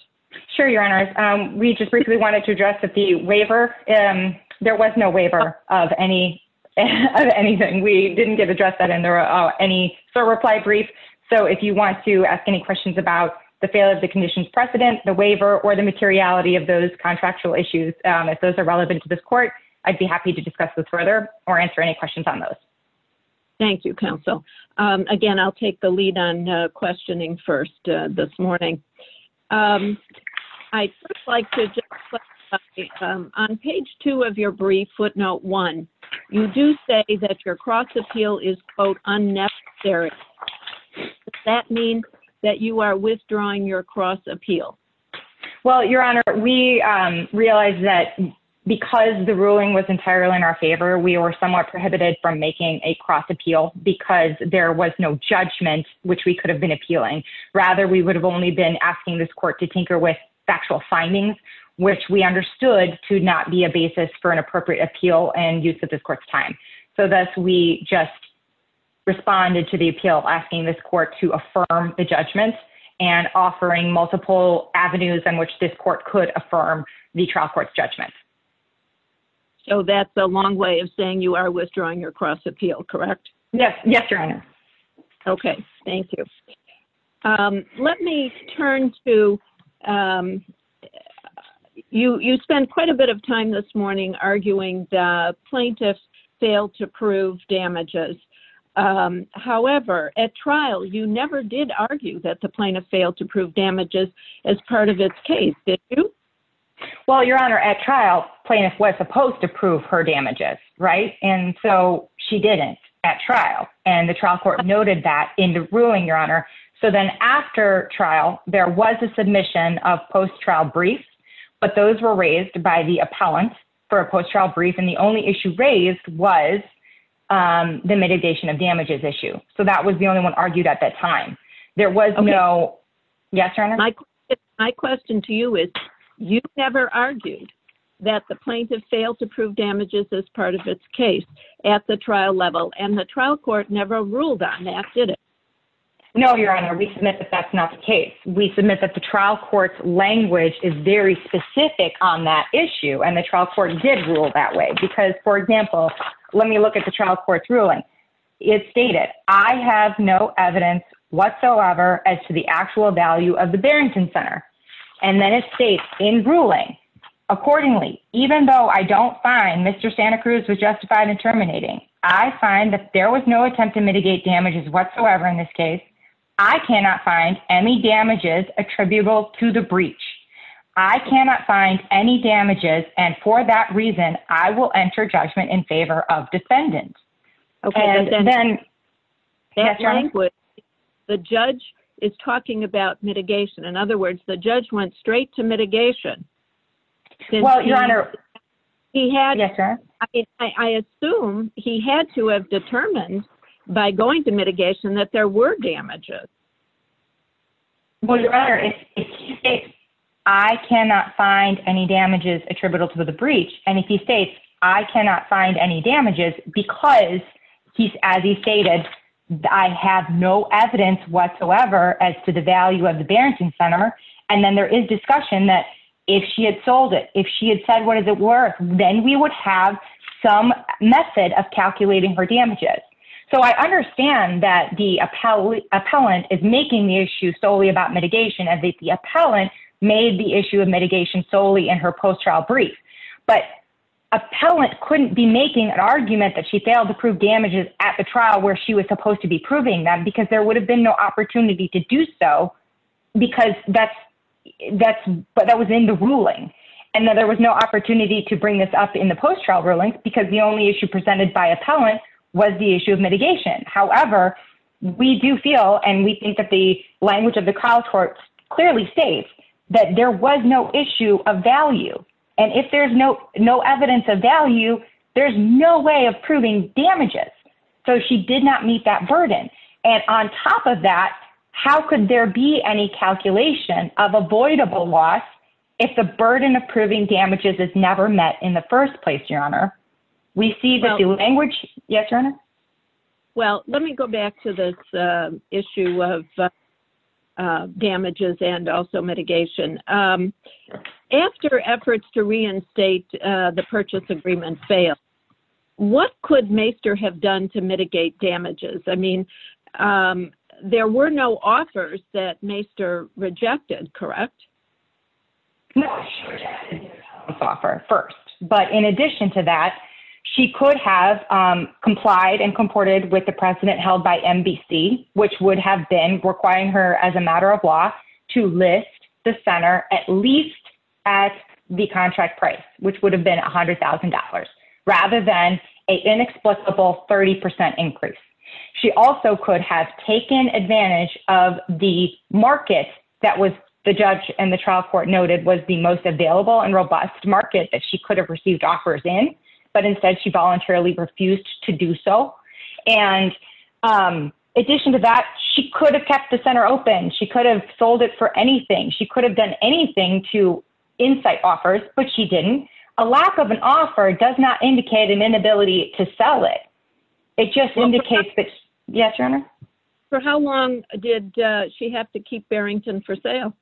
Sure, Your Honors. We just briefly wanted to address that the waiver. There was no waiver of any of anything. We didn't get to address that. And there are any reply brief. So if you want to ask any questions about the failure of the conditions precedent, the waiver, or the materiality of those contractual issues, if those are relevant to this court, I'd be happy to discuss this further or answer any questions on those. Thank you, Counsel. Again, I'll take the lead on questioning first this morning. I'd like to just on page two of your brief footnote one, you do say that your cross appeal is quote unnecessary. That means that you are withdrawing your cross appeal. Well, Your Honor, we realized that because the ruling was entirely in our favor, we were somewhat prohibited from making a cross appeal because there was no judgment, which we could have been appealing. Rather, we would have only been asking this court to tinker with factual findings, which we understood to not be a basis for an appropriate appeal and use of this court's time. So thus, we just responded to the appeal asking this court to affirm the judgment and offering multiple avenues on which this court could affirm the trial court's judgment. So that's a long way of saying you are withdrawing your cross appeal, correct? Yes. Yes, Your Honor. Okay, thank you. Let me turn to You spend quite a bit of time this morning arguing the plaintiff failed to prove damages. However, at trial, you never did argue that the plaintiff failed to prove damages as part of its case, did you? Well, Your Honor, at trial plaintiff was supposed to prove her damages. Right. And so she didn't at trial and the trial court noted that in the ruling, Your Honor. So then after trial, there was a submission of post trial brief, but those were raised by the appellant for a post trial brief and the only issue raised was the mitigation of damages issue. So that was the only one argued at that time. There was no. Yes, Your Honor. My question to you is, you never argued that the plaintiff failed to prove damages as part of its case at the trial level and the trial court never ruled on that, did it? No, Your Honor. We submit that that's not the case. We submit that the trial court's language is very specific on that issue and the trial court did rule that way because, for example, let me look at the trial court's ruling. It stated, I have no evidence whatsoever as to the actual value of the Barrington Center. And then it states in ruling accordingly, even though I don't find Mr Santa Cruz was justified in terminating. I find that there was no attempt to mitigate damages whatsoever in this case. I cannot find any damages attributable to the breach. I cannot find any damages. And for that reason, I will enter judgment in favor of defendant. Okay, and then. The judge is talking about mitigation. Well, Your Honor. He had. Yes, sir. I mean, I assume he had to have determined by going to mitigation that there were damages. Well, Your Honor, if he states, I cannot find any damages attributable to the breach. And if he states, I cannot find any damages because he's, as he stated, I have no evidence whatsoever as to the value of the Barrington Center. And then there is discussion that if she had sold it, if she had said, what is it worth? Then we would have some method of calculating her damages. So I understand that the appellate appellant is making the issue solely about mitigation and the appellant made the issue of mitigation solely in her post-trial brief. But appellant couldn't be making an argument that she failed to prove damages at the trial where she was supposed to be proving them because there would have been no opportunity to do so. Because that was in the ruling. And then there was no opportunity to bring this up in the post-trial ruling because the only issue presented by appellant was the issue of mitigation. However, we do feel and we think that the language of the trial court clearly states that there was no issue of value. And if there's no evidence of value, there's no way of proving damages. So she did not meet that burden. And on top of that, how could there be any calculation of avoidable loss if the burden of proving damages is never met in the first place, Your Honor? We see that the language... Yes, Your Honor? Well, let me go back to this issue of damages and also mitigation. After efforts to reinstate the purchase agreement failed, what could Maester have done to mitigate damages? I mean, there were no offers that Maester rejected, correct? No, she rejected the promise offer first. But in addition to that, she could have complied and comported with the precedent held by NBC, which would have been requiring her as a matter of law to list the center at least at the contract price, which would have been $100,000, rather than an inexplicable 30% increase. She also could have taken advantage of the market that the judge and the trial court noted was the most available and robust market that she could have received offers in. But instead, she voluntarily refused to do so. And in addition to that, she could have kept the center open. She could have sold it for anything. She could have done anything to incite offers, but she didn't. A lack of an offer does not indicate an inability to sell it. It just indicates that... Yes, Your Honor? For how long did she have to keep Barrington for sale?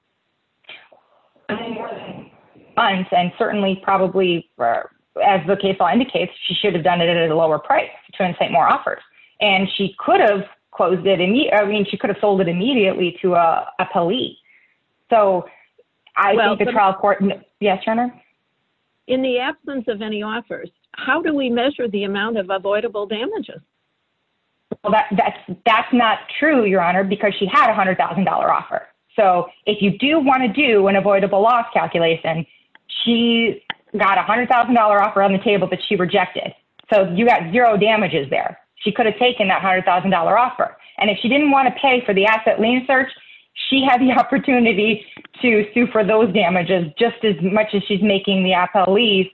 Any more than a month, and certainly probably, as the case law indicates, she should have done it at a lower price to incite more offers. And she could have closed it immediately. I mean, she could have sold it immediately to a police. So I think the trial court... Yes, Your Honor? In the absence of any offers, how do we measure the amount of avoidable damages? Well, that's not true, Your Honor, because she had a $100,000 offer. So if you do want to do an avoidable loss calculation, she got a $100,000 offer on the table that she rejected. So you got zero damages there. She could have taken that $100,000 offer. And if she didn't want to pay for the asset lien search, she had the opportunity to sue for those damages just as much as she's making the appellees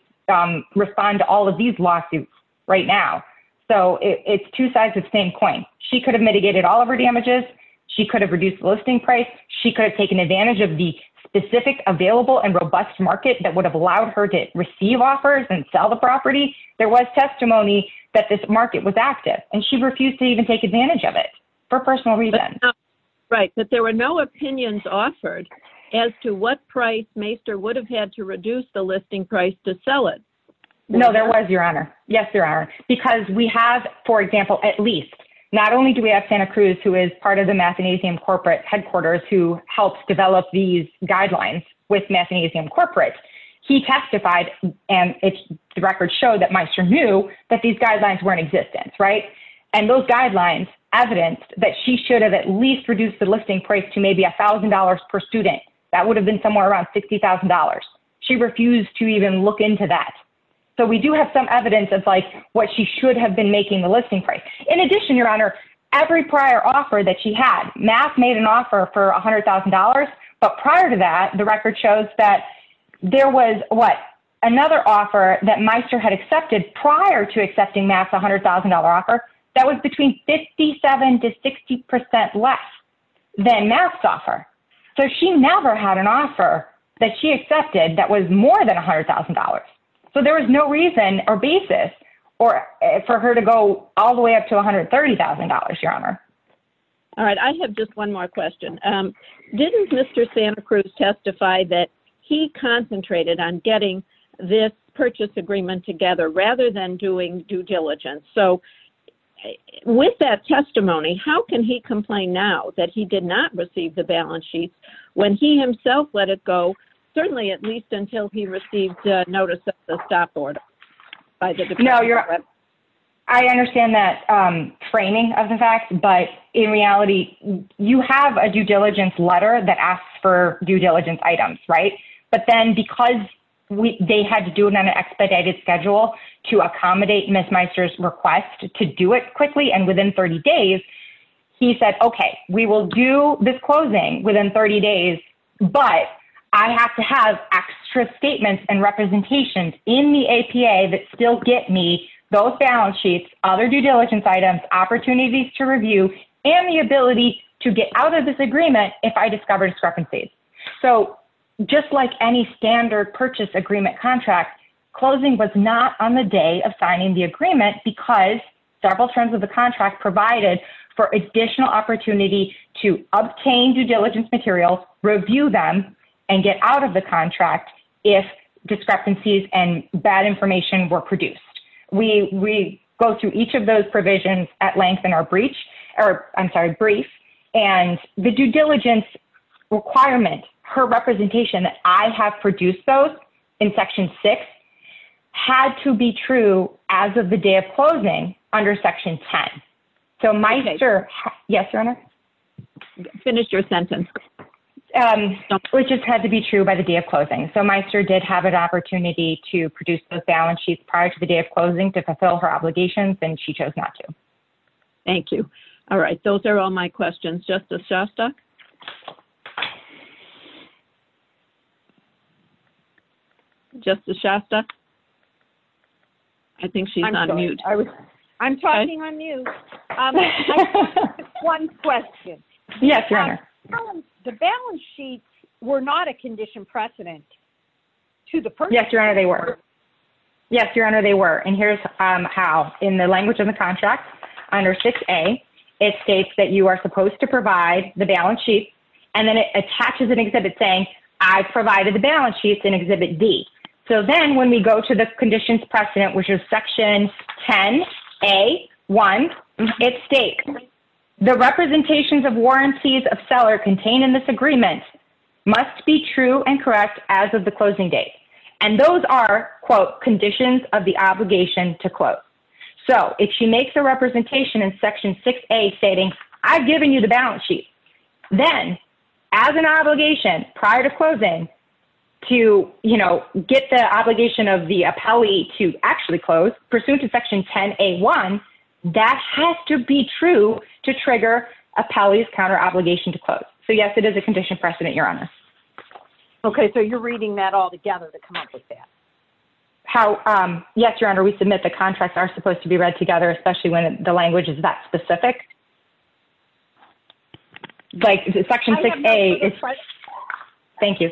respond to all of these lawsuits right now. So it's two sides of the same coin. She could have mitigated all of her damages. She could have reduced the listing price. She could have taken advantage of the specific, available, and robust market that would have allowed her to receive offers and sell the property. There was testimony that this market was active, and she refused to even take advantage of it for personal reasons. Right. But there were no opinions offered as to what price Maester would have had to reduce the listing price to sell it. No, there was, Your Honor. Yes, there are. Because we have, for example, at least, not only do we have Santa Cruz, who is part of the Mathanasium Corporate headquarters, who helps develop these guidelines with Mathanasium Corporate. He testified, and the records show that Maester knew that these guidelines were in existence, right? And those guidelines evidenced that she should have at least reduced the listing price to maybe $1,000 per student. That would have been somewhere around $60,000. She refused to even look into that. So we do have some evidence of, like, what she should have been making the listing price. In addition, Your Honor, every prior offer that she had, Math made an offer for $100,000. But prior to that, the record shows that there was, what, another offer that Maester had that was between 57% to 60% less than Math's offer. So she never had an offer that she accepted that was more than $100,000. So there was no reason or basis for her to go all the way up to $130,000, Your Honor. All right. I have just one more question. Didn't Mr. Santa Cruz testify that he concentrated on getting this purchase agreement together rather than doing due diligence? So with that testimony, how can he complain now that he did not receive the balance sheet when he himself let it go, certainly at least until he received notice of the stop order? No, Your Honor, I understand that framing of the fact. But in reality, you have a due diligence letter that asks for due diligence items, right? But then because they had to do it on an expedited schedule to accommodate Ms. Maester's request to do it quickly and within 30 days, he said, okay, we will do this closing within 30 days, but I have to have extra statements and representations in the APA that still get me those balance sheets, other due diligence items, opportunities to review, and the ability to get out of this agreement if I discover discrepancies. So just like any standard purchase agreement contract, closing was not on the day of signing the agreement because several terms of the contract provided for additional opportunity to obtain due diligence materials, review them, and get out of the contract if discrepancies and bad information were produced. We go through each of those provisions at length in our brief, and the due diligence requirement, her representation that I have produced those in Section 6, had to be true as of the day of closing under Section 10. So Maester, yes, Your Honor? Finish your sentence. Which just had to be true by the day of closing. So Maester did have an opportunity to produce those balance sheets prior to the day of closing to fulfill her obligations, and she chose not to. Thank you. All right, those are all my questions. Justice Shostak? I think she's on mute. I'm talking on mute. One question. Yes, Your Honor? The balance sheets were not a condition precedent to the purchase. Yes, Your Honor, they were. Yes, Your Honor, they were. And here's how. In the language of the contract under 6A, it states that you are supposed to provide the balance sheet, and then it attaches an exhibit saying, I've provided the balance sheet in Exhibit D. So then when we go to the conditions precedent, which is Section 10A1, it states, the representations of warranties of seller contained in this agreement must be true and correct as of the closing date. And those are, quote, conditions of the obligation, to quote. So if she makes a representation in Section 6A stating, I've given you the balance sheet, then, as an obligation prior to closing, to get the obligation of the appellee to actually close, pursuant to Section 10A1, that has to be true to trigger appellee's counter obligation to close. So yes, it is a condition precedent, Your Honor. OK, so you're reading that all together to come up with that. Yes, Your Honor, we submit the contracts are supposed to be read together, especially when the language is that specific. Like Section 6A is. Thank you.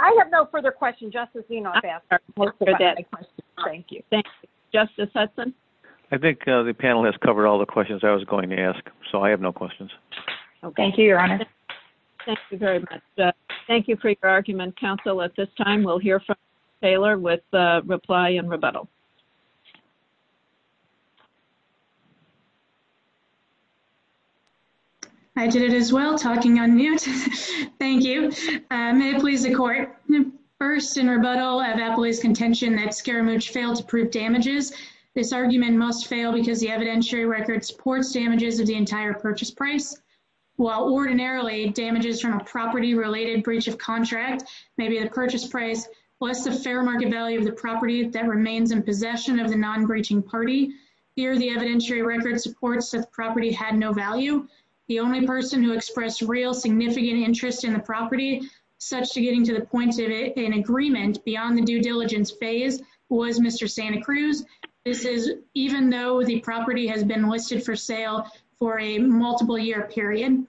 I have no further questions. Thank you. Thank you. Justice Hudson? I think the panel has covered all the questions I was going to ask. So I have no questions. Thank you, Your Honor. Thank you very much. Thank you for your argument, counsel. At this time, we'll hear from Taylor with reply and rebuttal. I did it as well, talking on mute. Thank you. May it please the Court. First, in rebuttal of appellee's contention that Scaramucci failed to prove damages, this argument must fail because the evidentiary record supports damages of the entire purchase price. While ordinarily, damages from a property-related breach of contract may be the purchase price plus the fair market value of the property that remains in possession of the non-breaching party. Here, the evidentiary record supports that the property had no value. The only person who expressed real significant interest in the property, such to getting to the point of an agreement beyond the due diligence phase, was Mr. Santa Cruz. This is even though the property has been listed for sale for a multiple-year period.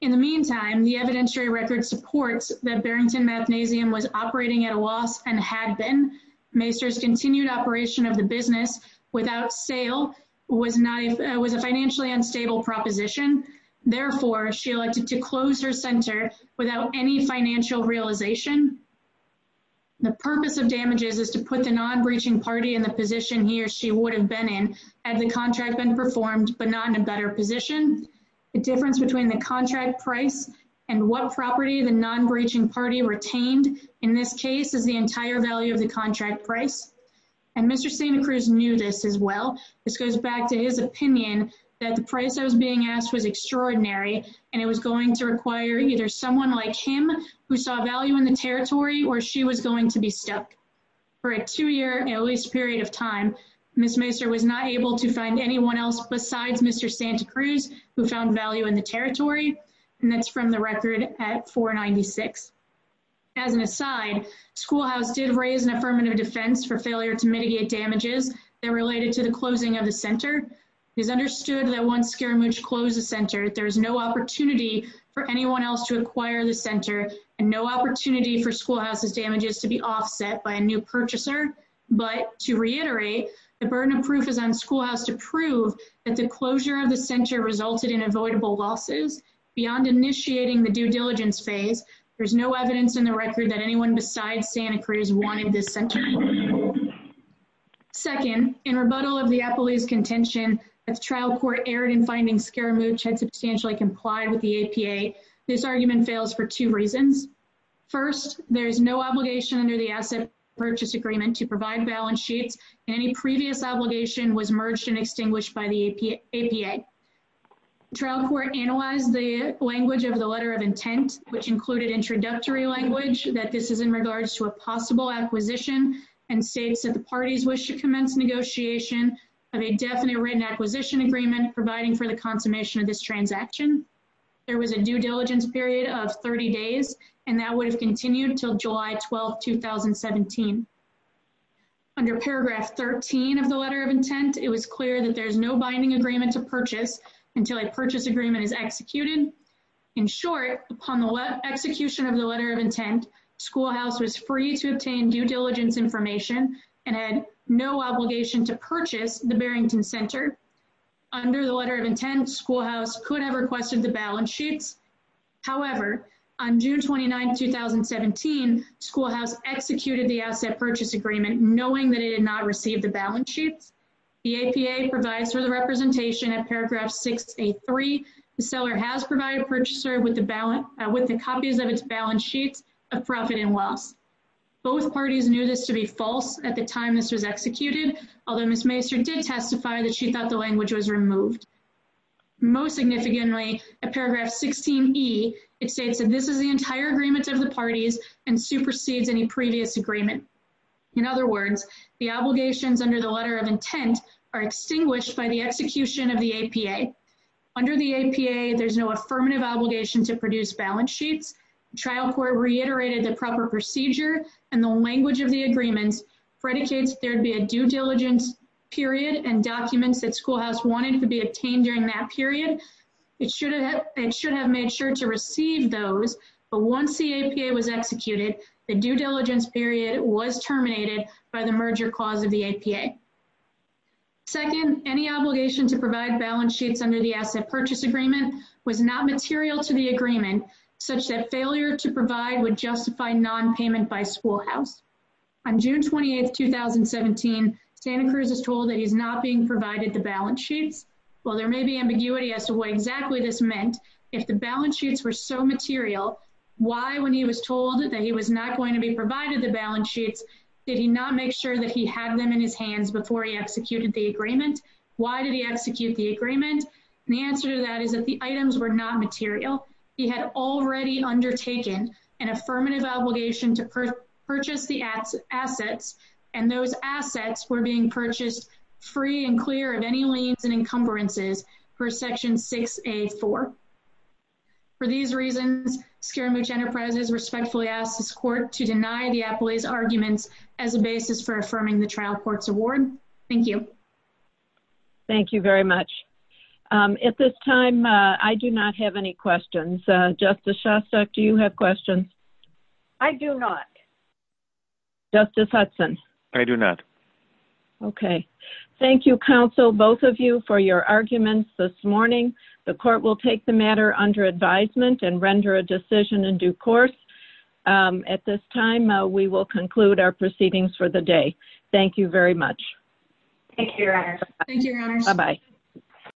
In the meantime, the evidentiary record supports that Barrington Mathnasium was operating at a loss and had been. Maester's continued operation of the business without sale was a financially unstable proposition. Therefore, she elected to close her center without any financial realization. The purpose of damages is to put the non-breaching party in the position he or she would have been in had the contract been performed, but not in a better position. The difference between the contract price and what property the non-breaching party retained, in this case, is the entire value of the contract price. And Mr. Santa Cruz knew this as well. This goes back to his opinion that the price that was being asked was extraordinary, and it was going to require either someone like him who saw value in the territory, or she was going to be stuck. For a two-year, at least, period of time, Ms. Maester was not able to find anyone else besides Mr. Santa Cruz who found value in the territory, and that's from the record at 496. As an aside, Schoolhouse did raise an affirmative defense for failure to mitigate damages that related to the closing of the center. It is understood that once Scaramouche closed the center, there is no opportunity for anyone else to acquire the center and no opportunity for Schoolhouse's damages to be offset by a new purchaser. But to reiterate, the burden of proof is on Schoolhouse to prove that the closure of the center resulted in avoidable losses. Beyond initiating the due diligence phase, there is no evidence in the record that anyone besides Santa Cruz wanted this center closed. Second, in rebuttal of the Appleby's contention that the trial court erred in finding Scaramouche had substantially complied with the APA, this argument fails for two reasons. First, there is no obligation under the asset purchase agreement to provide balance sheets, and any previous obligation was merged and extinguished by the APA. The trial court analyzed the language of the letter of intent, which included introductory language that this is in regards to a possible acquisition and states that the parties wish to commence negotiation of a definite written acquisition agreement providing for the consummation of this transaction. There was a due diligence period of 30 days, and that would have continued until July 12, 2017. Under paragraph 13 of the letter of intent, it was clear that there is no binding agreement to purchase until a purchase agreement is executed. In short, upon the execution of the letter of intent, Schoolhouse was free to obtain due diligence information and had no obligation to purchase the Barrington Center. Under the letter of intent, Schoolhouse could have requested the balance sheets. However, on June 29, 2017, Schoolhouse executed the asset purchase agreement knowing that it did not receive the balance sheets. The APA provides for the representation at paragraph 683. The seller has provided purchaser with the balance with the copies of its balance sheets of profit and loss. Both parties knew this to be false at the time this was executed, although Ms. Macer did testify that she thought the language was removed. Most significantly, at paragraph 16E, it states that this is the entire agreement of the parties and supersedes any previous agreement. In other words, the obligations under the letter of intent are extinguished by the execution of the APA. Under the APA, there's no affirmative obligation to produce balance sheets. Trial court reiterated the proper procedure and the language of the agreements, predicates there would be a due diligence period and documents that Schoolhouse wanted to be obtained during that period. It should have made sure to receive those, but once the APA was executed, the due diligence period was terminated by the merger clause of the APA. Second, any obligation to provide balance sheets under the asset purchase agreement was not material to the agreement, such that failure to provide would justify nonpayment by Schoolhouse. On June 28, 2017, Santa Cruz is told that he's not being provided the balance sheets. While there may be ambiguity as to what exactly this meant, if the balance sheets were so did he not make sure that he had them in his hands before he executed the agreement? Why did he execute the agreement? The answer to that is that the items were not material. He had already undertaken an affirmative obligation to purchase the assets, and those assets were being purchased free and clear of any liens and encumbrances per Section 6A.4. For these reasons, Scaramucci Enterprises respectfully asks this Court to deny the appellee's arguments as a basis for affirming the trial court's award. Thank you. Thank you very much. At this time, I do not have any questions. Justice Shostak, do you have questions? I do not. Justice Hudson? I do not. Okay. Thank you, counsel, both of you, for your arguments this morning. The Court will take the matter under advisement and render a decision in due course. At this time, we will conclude our proceedings for the day. Thank you very much. Thank you, Your Honor. Thank you, Your Honors. Bye-bye.